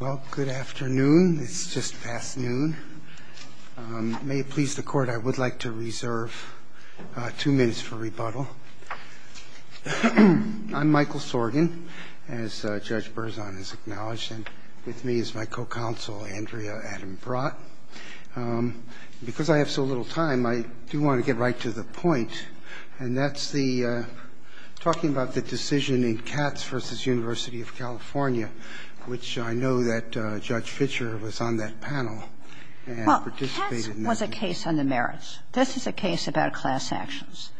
Well, good afternoon. It's just past noon. May it please the court, I would like to reserve two minutes for rebuttal. I'm Michael Sorgan, as Judge Berzon has acknowledged, and with me is my co-counsel Andrea Adam Brott. Because I have so little time, I do want to get right to the point, and that's talking about the decision in Katz v. University of California, which I know that Judge Fischer was on that panel and participated in that. Well, Katz was a case on the merits. This is a case about class actions,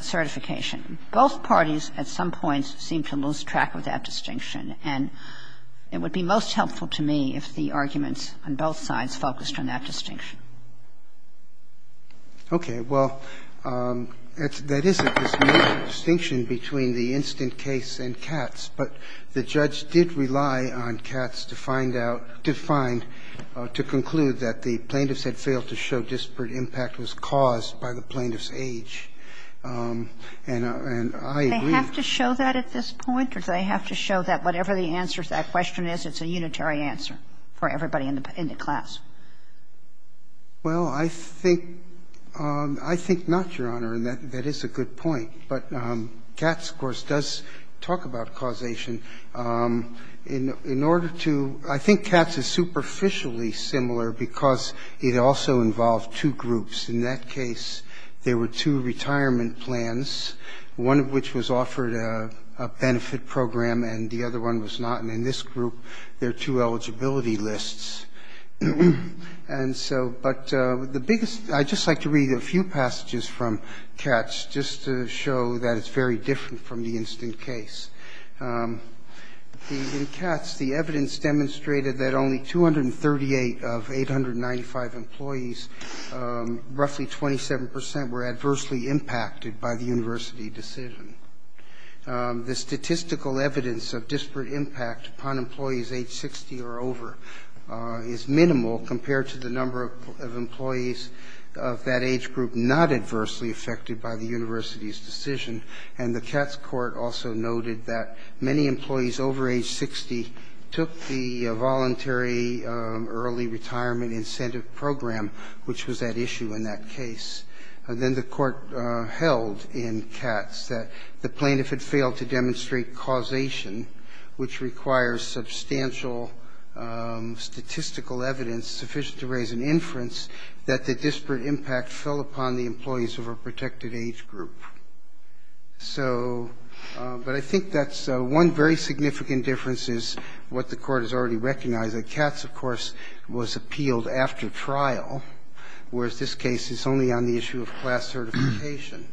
certification. Both parties at some point seemed to lose track of that distinction, and it would be most helpful to me if the arguments on both sides focused on that distinction. Okay. Well, that is a distinction between the instant case and Katz, but the judge did rely on Katz to find out, to find, to conclude that the plaintiffs had failed to show disparate impact was caused by the plaintiff's age. And I agree. Do they have to show that at this point, or do they have to show that whatever the answer to that question is, it's a unitary answer for everybody in the class? Well, I think not, Your Honor, and that is a good point. But Katz, of course, does talk about causation. In order to ‑‑ I think Katz is superficially similar because it also involved two groups. In that case, there were two retirement plans, one of which was offered a benefit program and the other one was not. And in this group, there are two eligibility lists. And so ‑‑ but the biggest ‑‑ I'd just like to read a few passages from Katz just to show that it's very different from the instant case. In Katz, the evidence demonstrated that only 238 of 895 employees, roughly 27 percent, were adversely impacted by the university decision. The statistical evidence of disparate impact upon employees age 60 or over is minimal compared to the number of employees of that age group not adversely affected by the university's decision. And the Katz court also noted that many employees over age 60 took the voluntary early retirement incentive program, which was at issue in that case. Then the court held in Katz that the plaintiff had failed to demonstrate causation, which requires substantial statistical evidence sufficient to raise an inference, that the disparate impact fell upon the employees of a protected age group. So ‑‑ but I think that's one very significant difference is what the court has already recognized, that Katz, of course, was appealed after trial, whereas this case is only on the issue of class certification.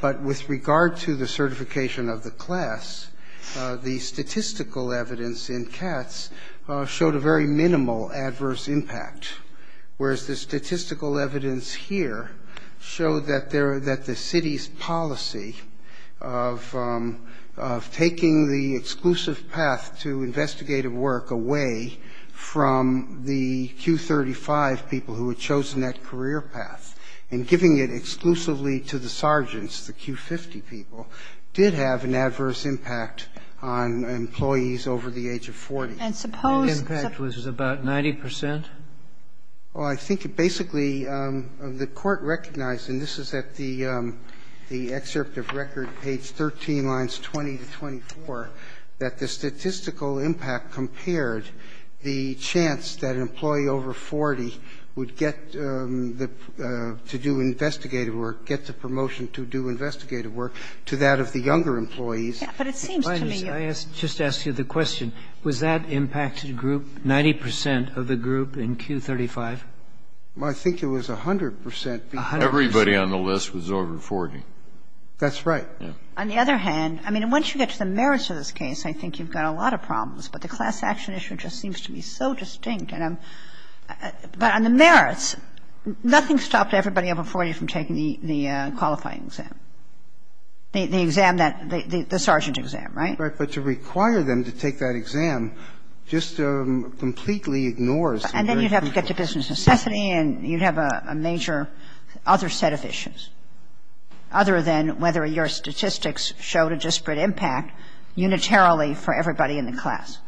But with regard to the certification of the class, the statistical evidence in Katz showed a very minimal adverse impact, whereas the statistical evidence here showed that the city's policy of taking the exclusive path to investigative work away from the Q35 people who had chosen that career path and giving it exclusively to the sergeants, the Q50 people, did have an adverse impact on employees over the age of 40. And suppose ‑‑ The impact was about 90 percent? Well, I think it basically ‑‑ the court recognized, and this is at the excerpt of record, page 13, lines 20 to 24, that the statistical impact compared the chance that an employee over 40 would get the ‑‑ to do investigative work, get the promotion to do investigative work, to that of the younger employees. But it seems to me you're ‑‑ Well, I think it was 100 percent. Everybody on the list was over 40. That's right. On the other hand, I mean, once you get to the merits of this case, I think you've got a lot of problems. But the class action issue just seems to be so distinct. And I'm ‑‑ but on the merits, nothing stopped everybody over 40 from taking the qualifying exam, the exam that ‑‑ the sergeant exam, right? Right. But to require them to take that exam just completely ignores the very fact that you'd have to get to business necessity and you'd have a major other set of issues, other than whether your statistics showed a disparate impact unitarily for everybody in the class.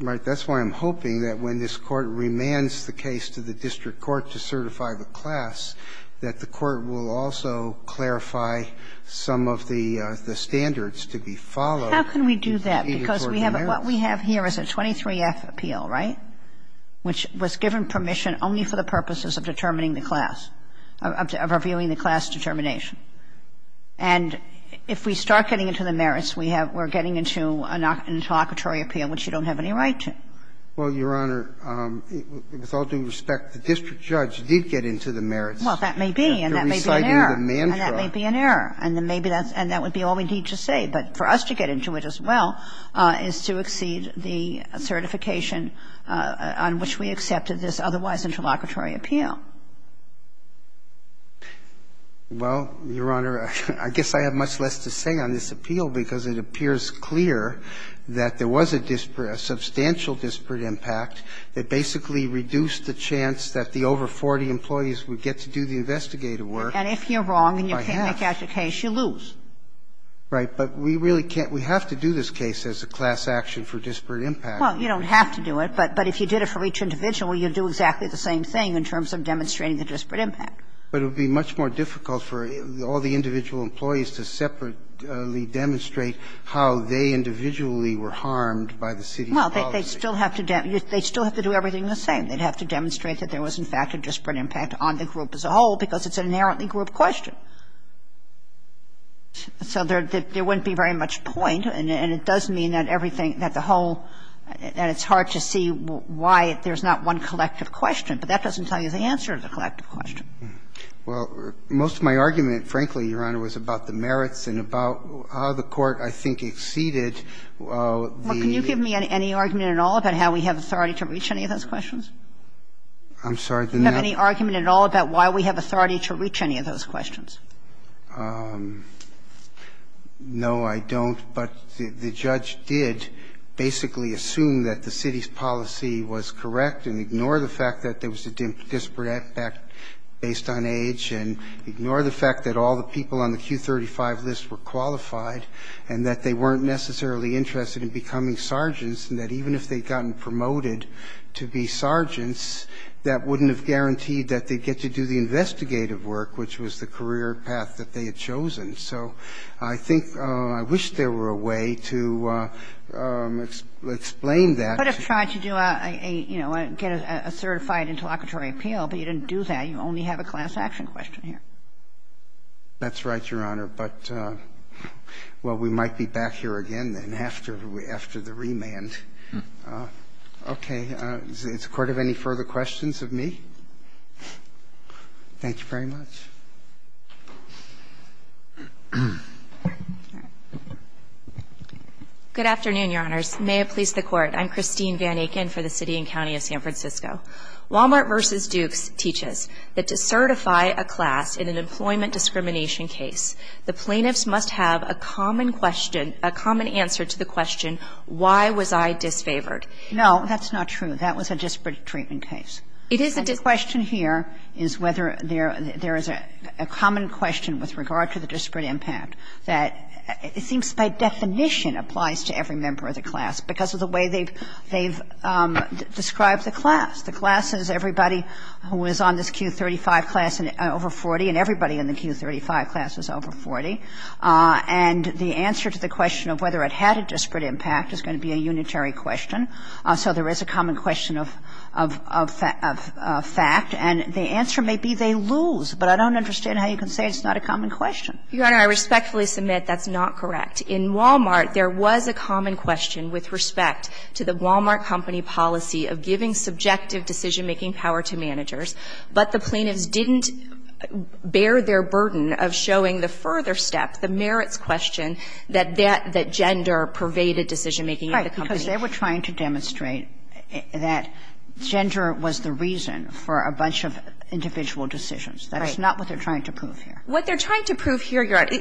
Right. That's why I'm hoping that when this Court remands the case to the district court to certify the class, that the Court will also clarify some of the standards to be followed in the court of merits. How can we do that? Because we have a ‑‑ what we have here is a 23F appeal, right? Which was given permission only for the purposes of determining the class, of reviewing the class determination. And if we start getting into the merits, we have ‑‑ we're getting into an interlocutory appeal, which you don't have any right to. Well, Your Honor, with all due respect, the district judge did get into the merits. Well, that may be, and that may be an error. And that may be an error. And then maybe that's ‑‑ and that would be all we need to say. But for us to get into it as well is to exceed the certification on which we accepted this otherwise interlocutory appeal. Well, Your Honor, I guess I have much less to say on this appeal, because it appears clear that there was a disparate, a substantial disparate impact that basically reduced the chance that the over 40 employees would get to do the investigative work. And if you're wrong and you can't make out your case, you lose. Right. But we really can't ‑‑ we have to do this case as a class action for disparate impact. Well, you don't have to do it. But if you did it for each individual, you'd do exactly the same thing in terms of demonstrating the disparate impact. But it would be much more difficult for all the individual employees to separately demonstrate how they individually were harmed by the city's policy. Well, they'd still have to do everything the same. They'd have to demonstrate that there was, in fact, a disparate impact on the group as a whole, because it's an inherently group question. So there wouldn't be very much point, and it does mean that everything, that the whole ‑‑ and it's hard to see why there's not one collective question, but that doesn't tell you the answer to the collective question. Well, most of my argument, frankly, Your Honor, was about the merits and about how the court, I think, exceeded the ‑‑ Well, can you give me any argument at all about how we have authority to reach any of those questions? I'm sorry. Do you have any argument at all about why we have authority to reach any of those questions? No, I don't. But the judge did basically assume that the city's policy was correct and ignore the fact that there was a disparate impact based on age, and ignore the fact that all the people on the Q35 list were qualified, and that they weren't necessarily interested in becoming sergeants, and that even if they'd gotten promoted to be sergeants, that wouldn't have guaranteed that they'd get to do the investigative work, which was the career path that they had chosen. So I think ‑‑ I wish there were a way to explain that. You could have tried to do a, you know, get a certified interlocutory appeal, but you didn't do that. You only have a class action question here. That's right, Your Honor. But, well, we might be back here again then after the remand. Okay. Does the court have any further questions of me? Thank you very much. Good afternoon, Your Honors. May it please the Court. I'm Christine Van Aken for the City and County of San Francisco. Walmart v. Dukes teaches that to certify a class in an employment discrimination case, the plaintiffs must have a common question ‑‑ a common answer to the question, why was I disfavored? No, that's not true. That was a disparate treatment case. It is a disparate ‑‑ The question here is whether there is a common question with regard to the disparate impact that it seems by definition applies to every member of the class because of the way they've described the class. The class is everybody who is on this Q35 class over 40, and everybody in the Q35 class is over 40, and the answer to the question of whether it had a disparate impact is going to be a unitary question. So there is a common question of fact, and the answer may be they lose, but I don't understand how you can say it's not a common question. Your Honor, I respectfully submit that's not correct. In Walmart, there was a common question with respect to the Walmart company policy of giving subjective decision‑making power to managers, but the plaintiffs didn't bear their burden of showing the further step, the merits question, that gender pervaded decision‑making at the company. Because they were trying to demonstrate that gender was the reason for a bunch of individual decisions. That is not what they're trying to prove here. What they're trying to prove here, Your Honor,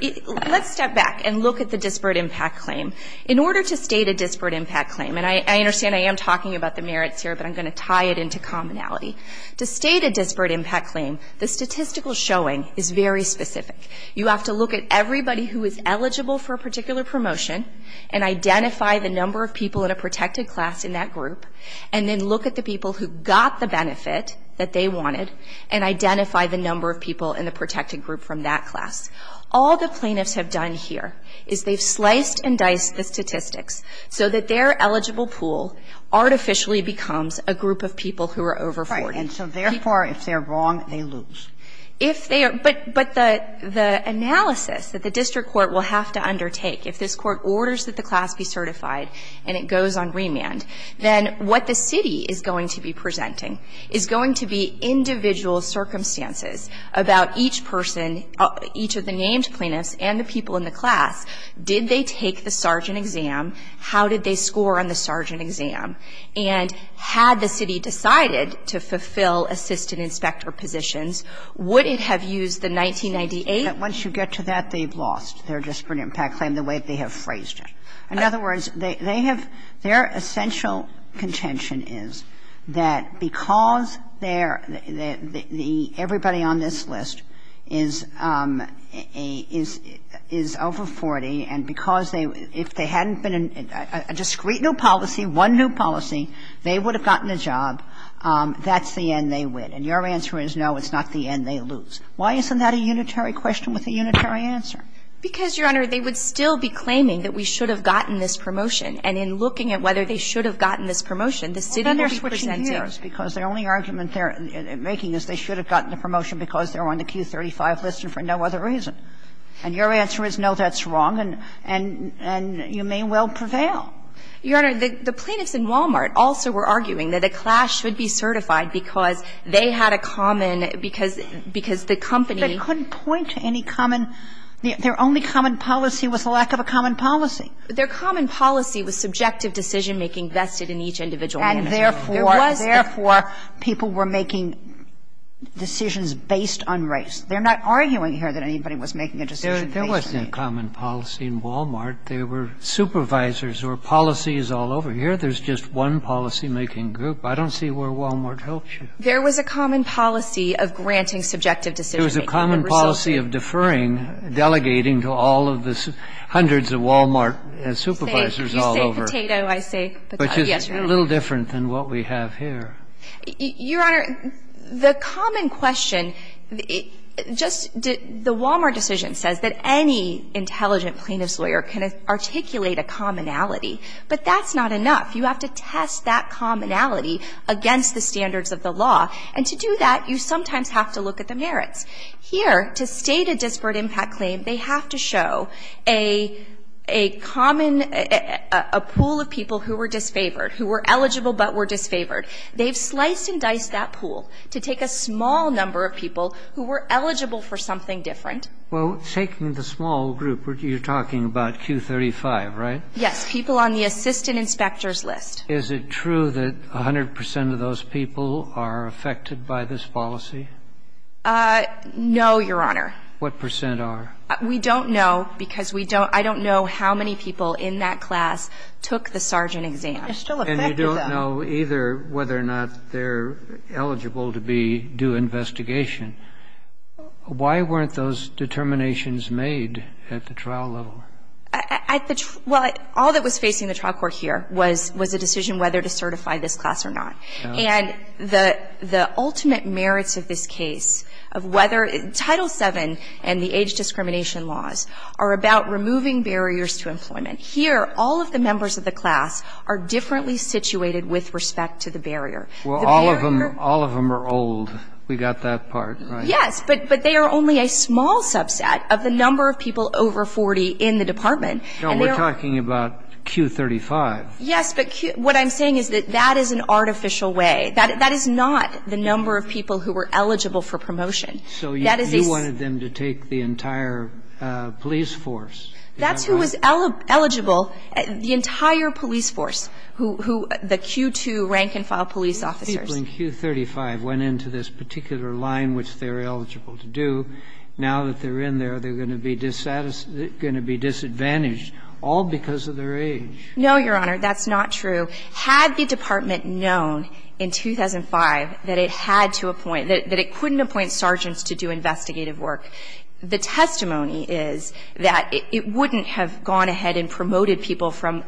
let's step back and look at the disparate impact claim. In order to state a disparate impact claim, and I understand I am talking about the merits here, but I'm going to tie it into commonality. To state a disparate impact claim, the statistical showing is very specific. You have to look at everybody who is eligible for a particular promotion and identify the number of people in a protected class in that group, and then look at the people who got the benefit that they wanted, and identify the number of people in the protected group from that class. All the plaintiffs have done here is they've sliced and diced the statistics so that their eligible pool artificially becomes a group of people who are over 40. Sotomayor, and so therefore, if they're wrong, they lose. If they are ‑‑but the analysis that the district court will have to undertake if this court orders that the class be certified and it goes on remand, then what the city is going to be presenting is going to be individual circumstances about each person, each of the named plaintiffs and the people in the class, did they take the sergeant exam, how did they score on the sergeant exam, and had the city decided to fulfill assistant inspector positions, would it have used the 1998? ‑‑Once you get to that, they've lost their disparate impact claim the way they have phrased it. In other words, they have ‑‑their essential contention is that because they're ‑‑everybody on this list is over 40 and because they ‑‑ if they hadn't been a discrete new policy, one new policy, they would have gotten a job, that's the end they win. And your answer is, no, it's not the end they lose. Why isn't that a unitary question with a unitary answer? Because, Your Honor, they would still be claiming that we should have gotten this promotion. And in looking at whether they should have gotten this promotion, the city will be presenting ‑‑ Well, then they're switching gears because the only argument they're making is they should have gotten the promotion because they're on the Q35 list and for no other reason. And your answer is, no, that's wrong, and you may well prevail. Your Honor, the plaintiffs in Wal-Mart also were arguing that a CLASH should be certified because they had a common ‑‑ because the company ‑‑ But it couldn't point to any common ‑‑ their only common policy was a lack of a common policy. Their common policy was subjective decision‑making vested in each individual unit. And therefore, people were making decisions based on race. They're not arguing here that anybody was making a decision based on race. There wasn't a common policy in Wal-Mart. There were supervisors or policies all over. Here there's just one policy‑making group. I don't see where Wal-Mart helps you. There was a common policy of granting subjective decision‑making. There was a common policy of deferring, delegating to all of the hundreds of Wal-Mart supervisors all over. You say potato, I say potato. Yes, Your Honor. Which is a little different than what we have here. Your Honor, the common question, just the Wal-Mart decision says that any intelligent plaintiff's lawyer can articulate a commonality, but that's not enough. You have to test that commonality against the standards of the law. And to do that, you sometimes have to look at the merits. Here, to state a disparate impact claim, they have to show a common ‑‑ a pool of people who were disfavored, who were eligible but were disfavored. They've sliced and diced that pool to take a small number of people who were eligible for something different. Well, taking the small group, you're talking about Q35, right? Yes. People on the assistant inspectors list. Is it true that 100 percent of those people are affected by this policy? No, Your Honor. What percent are? We don't know because we don't ‑‑ I don't know how many people in that class took the Sargent exam. And you don't know either whether or not they're eligible to be due investigation. Why weren't those determinations made at the trial level? Well, all that was facing the trial court here was a decision whether to certify this class or not. And the ultimate merits of this case, of whether ‑‑ Title VII and the age discrimination laws are about removing barriers to employment. Here, all of the members of the class are differently situated with respect to the barrier. Well, all of them are old. We got that part, right? Yes, but they are only a small subset of the number of people over 40 in the department. No, we're talking about Q35. Yes, but what I'm saying is that that is an artificial way. That is not the number of people who were eligible for promotion. So you wanted them to take the entire police force? That's who was eligible, the entire police force, the Q2 rank and file police officers. Well, if a child in Q35 went into this particular line, which they're eligible to do, now that they're in there, they're going to be disadvantaged, all because of their age. No, Your Honor, that's not true. Had the department known in 2005 that it had to appoint, that it couldn't appoint sergeants to do investigative work, the testimony is that it wouldn't have gone ahead and promoted people from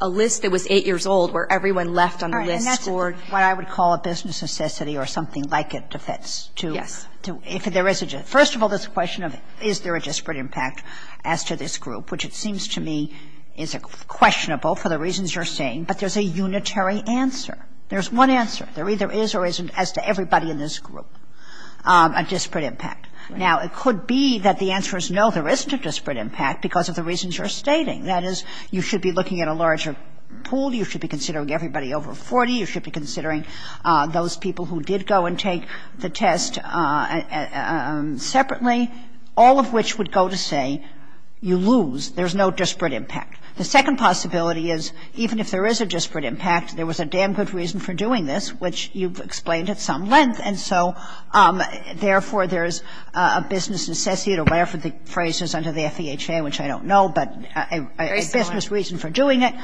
a list that was 8 years old where everyone left on the list for what I would call a business necessity or something like a defense to do. First of all, there's a question of is there a disparate impact as to this group, which it seems to me is questionable for the reasons you're saying, but there's a unitary answer. There's one answer. There either is or isn't, as to everybody in this group, a disparate impact. Now, it could be that the answer is no, there isn't a disparate impact because of the reasons you're stating. That is, you should be looking at a larger pool, you should be considering everybody over 40, you should be considering those people who did go and take the test separately, all of which would go to say you lose, there's no disparate impact. The second possibility is even if there is a disparate impact, there was a damn good reason for doing this, which you've explained at some length, and so therefore there's a business necessity, whatever the phrase is under the FEHA, which I don't know, but a business reason for doing it.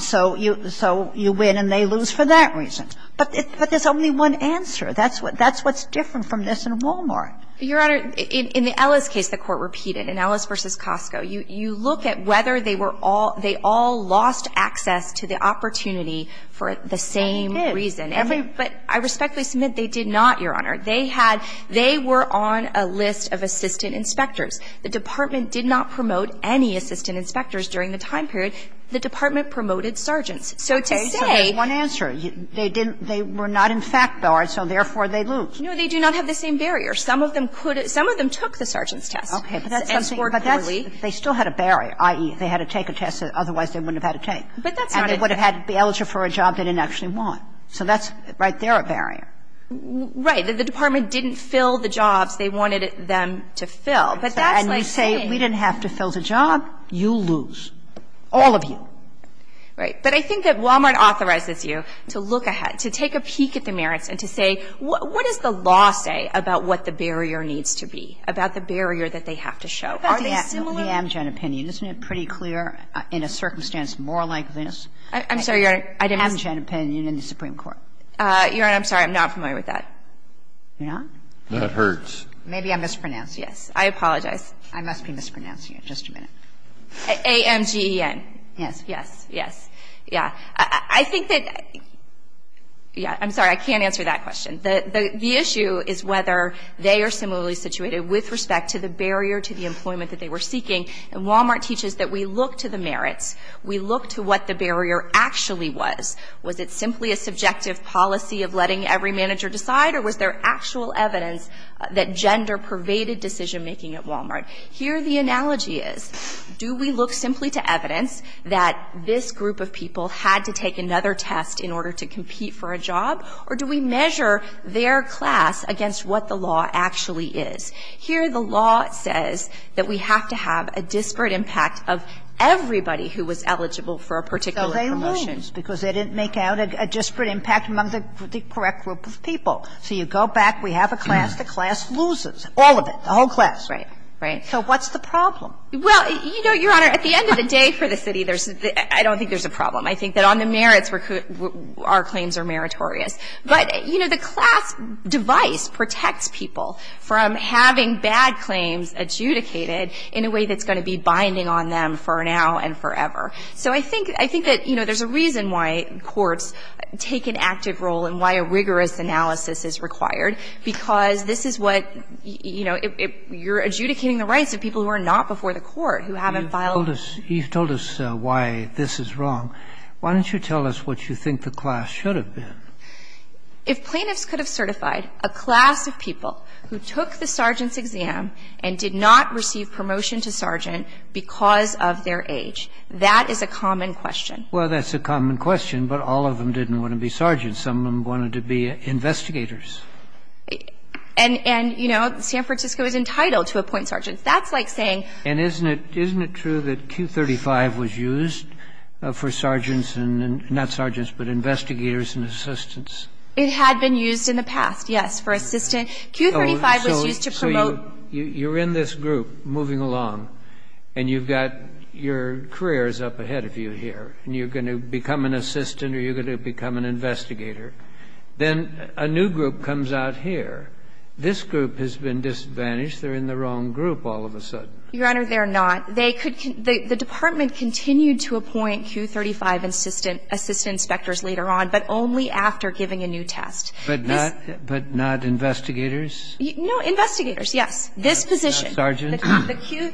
So you win and they lose for that reason. But there's only one answer. That's what's different from this in Walmart. Your Honor, in the Ellis case, the Court repeated, in Ellis v. Costco, you look at whether they were all they all lost access to the opportunity for the same reason. But I respectfully submit they did not, Your Honor. They had they were on a list of assistant inspectors. The Department did not promote any assistant inspectors during the time period. The Department promoted sergeants. So to say they didn't, they were not in fact barred, so therefore they lose. No, they do not have the same barrier. Some of them could, some of them took the sergeant's test. Okay. But that's, they still had a barrier, i.e., they had to take a test that otherwise they wouldn't have had to take. And they would have had to be eligible for a job they didn't actually want. So that's right there a barrier. Right. The Department didn't fill the jobs they wanted them to fill. But that's like saying, we didn't have to fill the job, you lose. All of you. Right. But I think that Walmart authorizes you to look ahead, to take a peek at the merits and to say, what does the law say about what the barrier needs to be, about the barrier that they have to show? Are they similar? But the Amgen opinion, isn't it pretty clear in a circumstance more like this? I'm sorry, Your Honor. I didn't ask. The Amgen opinion in the Supreme Court. Your Honor, I'm sorry. I'm not familiar with that. You're not? That hurts. Maybe I mispronounced. Yes. I apologize. I must be mispronouncing it. Just a minute. Amgen. Yes. Yes. Yes. Yeah. I think that, yeah, I'm sorry. I can't answer that question. The issue is whether they are similarly situated with respect to the barrier to the employment that they were seeking. And Walmart teaches that we look to the merits. We look to what the barrier actually was. Was it simply a subjective policy of letting every manager decide? Or was there actual evidence that gender pervaded decision making at Walmart? Here the analogy is, do we look simply to evidence that this group of people had to take another test in order to compete for a job, or do we measure their class against what the law actually is? Here the law says that we have to have a disparate impact of everybody who was eligible for a particular promotion. So they lose because they didn't make out a disparate impact among the correct group of people. So you go back, we have a class, the class loses, all of it, the whole class. Right. Right. So what's the problem? Well, you know, Your Honor, at the end of the day for the city, I don't think there's a problem. I think that on the merits, our claims are meritorious. But, you know, the class device protects people from having bad claims adjudicated in a way that's going to be binding on them for now and forever. So I think that, you know, there's a reason why courts take an active role and why a rigorous analysis is required, because this is what, you know, you're adjudicating the rights of people who are not before the court, who haven't filed. You've told us why this is wrong. Why don't you tell us what you think the class should have been? If plaintiffs could have certified a class of people who took the sergeant's exam and did not receive promotion to sergeant because of their age, that is a common question. Well, that's a common question, but all of them didn't want to be sergeants. Some of them wanted to be investigators. And, you know, San Francisco is entitled to appoint sergeants. That's like saying ---- And isn't it true that Q35 was used for sergeants and not sergeants, but investigators and assistants? It had been used in the past, yes, for assistants. Q35 was used to promote ---- So you're in this group moving along, and you've got your careers up ahead of you here, and you're going to become an assistant or you're going to become an investigator. Then a new group comes out here. This group has been disadvantaged. They're in the wrong group all of a sudden. Your Honor, they're not. They could ---- The Department continued to appoint Q35 assistant inspectors later on, but only after giving a new test. No, investigators, yes. This position. Not sergeants? The Q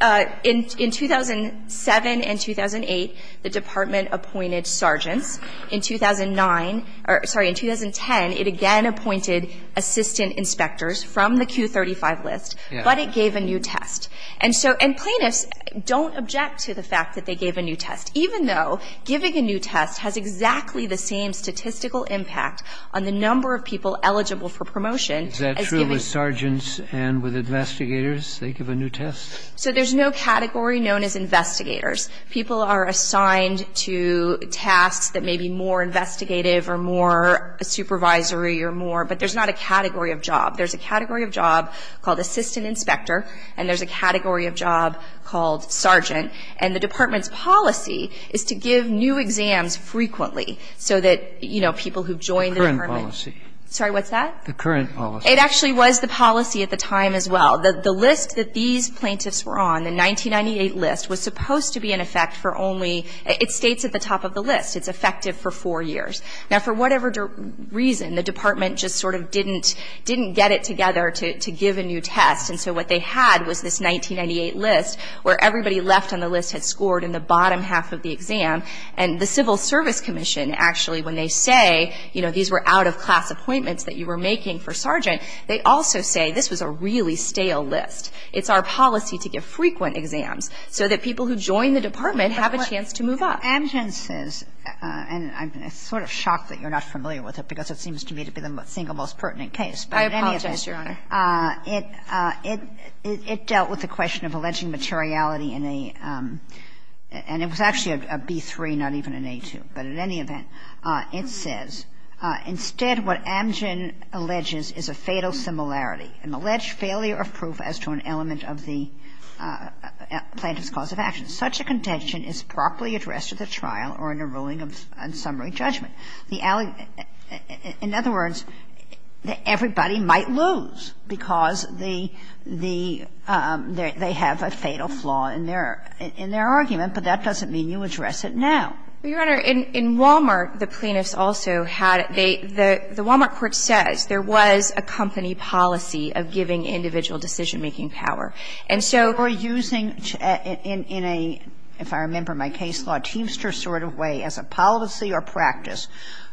---- In 2007 and 2008, the Department appointed sergeants. In 2009 or ---- sorry, in 2010, it again appointed assistant inspectors from the Q35 list, but it gave a new test. And so ---- and plaintiffs don't object to the fact that they gave a new test, even though giving a new test has exactly the same statistical impact on the number of people eligible for promotion as giving a new test. And with investigators, they give a new test? So there's no category known as investigators. People are assigned to tasks that may be more investigative or more supervisory or more, but there's not a category of job. There's a category of job called assistant inspector, and there's a category of job called sergeant. And the Department's policy is to give new exams frequently so that people who've joined the Department ---- Current policy. Sorry, what's that? The current policy. It actually was the policy at the time as well. The list that these plaintiffs were on, the 1998 list, was supposed to be in effect for only ---- it states at the top of the list. It's effective for four years. Now, for whatever reason, the Department just sort of didn't get it together to give a new test. And so what they had was this 1998 list where everybody left on the list had scored in the bottom half of the exam. And the Civil Service Commission, actually, when they say, you know, these were out-of-class appointments that you were making for sergeant, they also say, this was a really stale list. It's our policy to give frequent exams so that people who join the Department have a chance to move up. But what Amgen says, and I'm sort of shocked that you're not familiar with it because it seems to me to be the single most pertinent case, but in any event, it dealt with the question of alleging materiality in a ---- and it was actually a B-3, not even an A-2. But in any event, it says, ''Instead, what Amgen alleges is a fatal similarity, an alleged failure of proof as to an element of the plaintiff's cause of action. Such a contention is properly addressed at the trial or in a ruling on summary judgment.'' In other words, everybody might lose because the ---- they have a fatal flaw in their argument, but that doesn't mean you address it now. Your Honor, in Wal-Mart, the plaintiffs also had they the Wal-Mart court says there was a company policy of giving individual decision-making power. And so ---- You're using, in a, if I remember my case law, Teamster sort of way as a policy or practice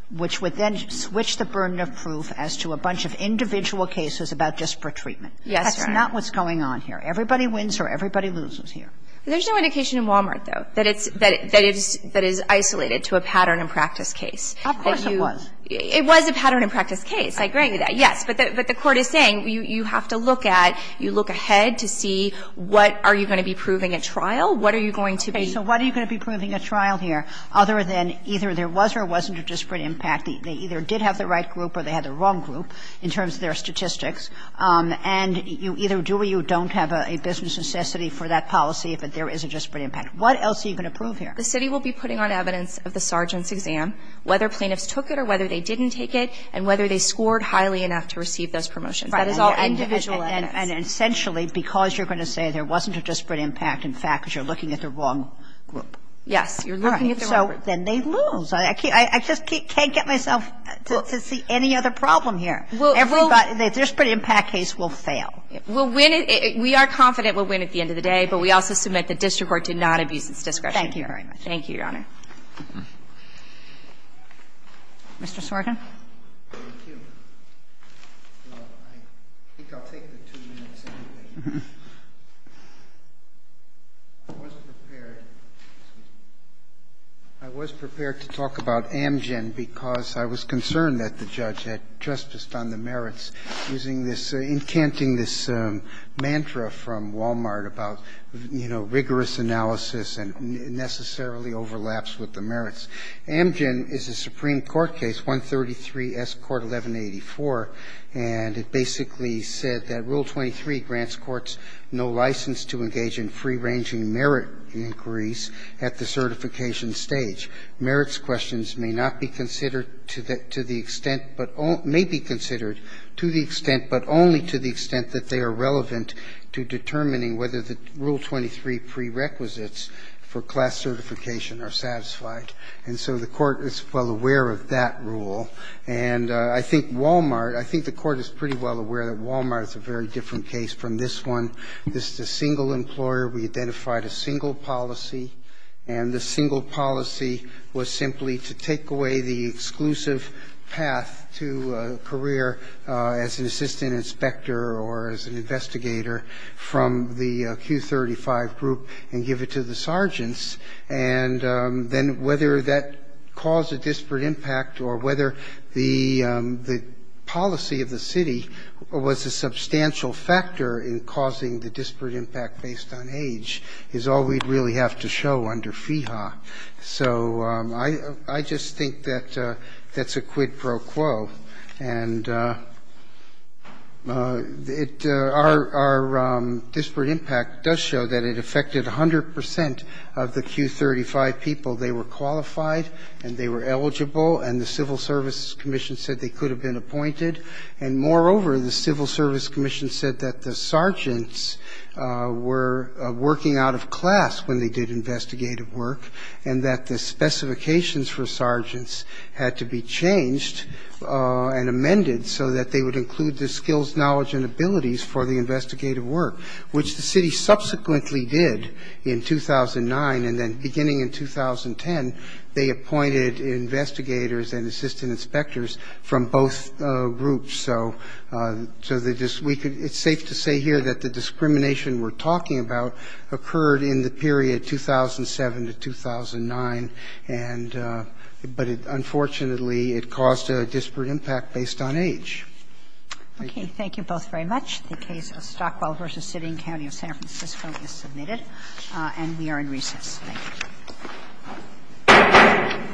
which would then switch the burden of proof as to a bunch of individual cases about disparate treatment. Yes, Your Honor. That's not what's going on here. Everybody wins or everybody loses here. There's no indication in Wal-Mart, though, that it's, that it's, that it's isolated to a pattern and practice case. Of course it was. It was a pattern and practice case. I agree with that, yes. But the court is saying you have to look at, you look ahead to see what are you going to be proving at trial, what are you going to be. So what are you going to be proving at trial here other than either there was or wasn't a disparate impact. They either did have the right group or they had the wrong group in terms of their statistics. And you either do or you don't have a business necessity for that policy, but there is a disparate impact. What else are you going to prove here? The city will be putting on evidence of the sergeant's exam, whether plaintiffs took it or whether they didn't take it, and whether they scored highly enough to receive those promotions. That is all individual evidence. And essentially, because you're going to say there wasn't a disparate impact, in fact, because you're looking at the wrong group. Yes. You're looking at the wrong group. So then they lose. I just can't get myself to see any other problem here. Every disparate impact case will fail. We'll win it. We are confident we'll win at the end of the day, but we also submit the district court did not abuse its discretion. Thank you very much. Thank you, Your Honor. Mr. Sorkin. I think I'll take the two minutes anyway. I was prepared to talk about Amgen because I was concerned that the judge had just done the merits using this, incanting this mantra from Walmart about, you know, rigorous analysis and it necessarily overlaps with the merits. Amgen is a Supreme Court case, 133S, Court 1184, and it basically said that Rule 23 grants courts no license to engage in free-ranging merit inquiries at the certification stage. Merits questions may not be considered to the extent, may be considered to the extent, but only to the extent that they are relevant to determining whether the Rule 23 prerequisites for class certification are satisfied. And so the Court is well aware of that rule. And I think Walmart, I think the Court is pretty well aware that Walmart is a very different case from this one. This is a single employer. We identified a single policy. And the single policy was simply to take away the exclusive path to a career as an assistant inspector or as an investigator from the Q35 group and give it to the sergeants. And then whether that caused a disparate impact or whether the policy of the city was a substantial factor in causing the disparate impact based on age is all we'd really have to show under FEHA. So I just think that that's a quid pro quo. And our disparate impact does show that it affected 100 percent of the Q35 people. They were qualified and they were eligible. And the Civil Service Commission said they could have been appointed. And moreover, the Civil Service Commission said that the sergeants were working out of mandated investigative work and that the specifications for sergeants had to be changed and amended so that they would include the skills, knowledge, and abilities for the investigative work, which the city subsequently did in 2009. And then beginning in 2010, they appointed investigators and assistant inspectors from both groups. So it's safe to say here that the discrimination we're talking about occurred in the period 2007 to 2009, and but it unfortunately, it caused a disparate impact based on age. Thank you. Kagan. Thank you both very much. The case of Stockwell v. Sidding County of San Francisco is submitted. And we are in recess. Thank you.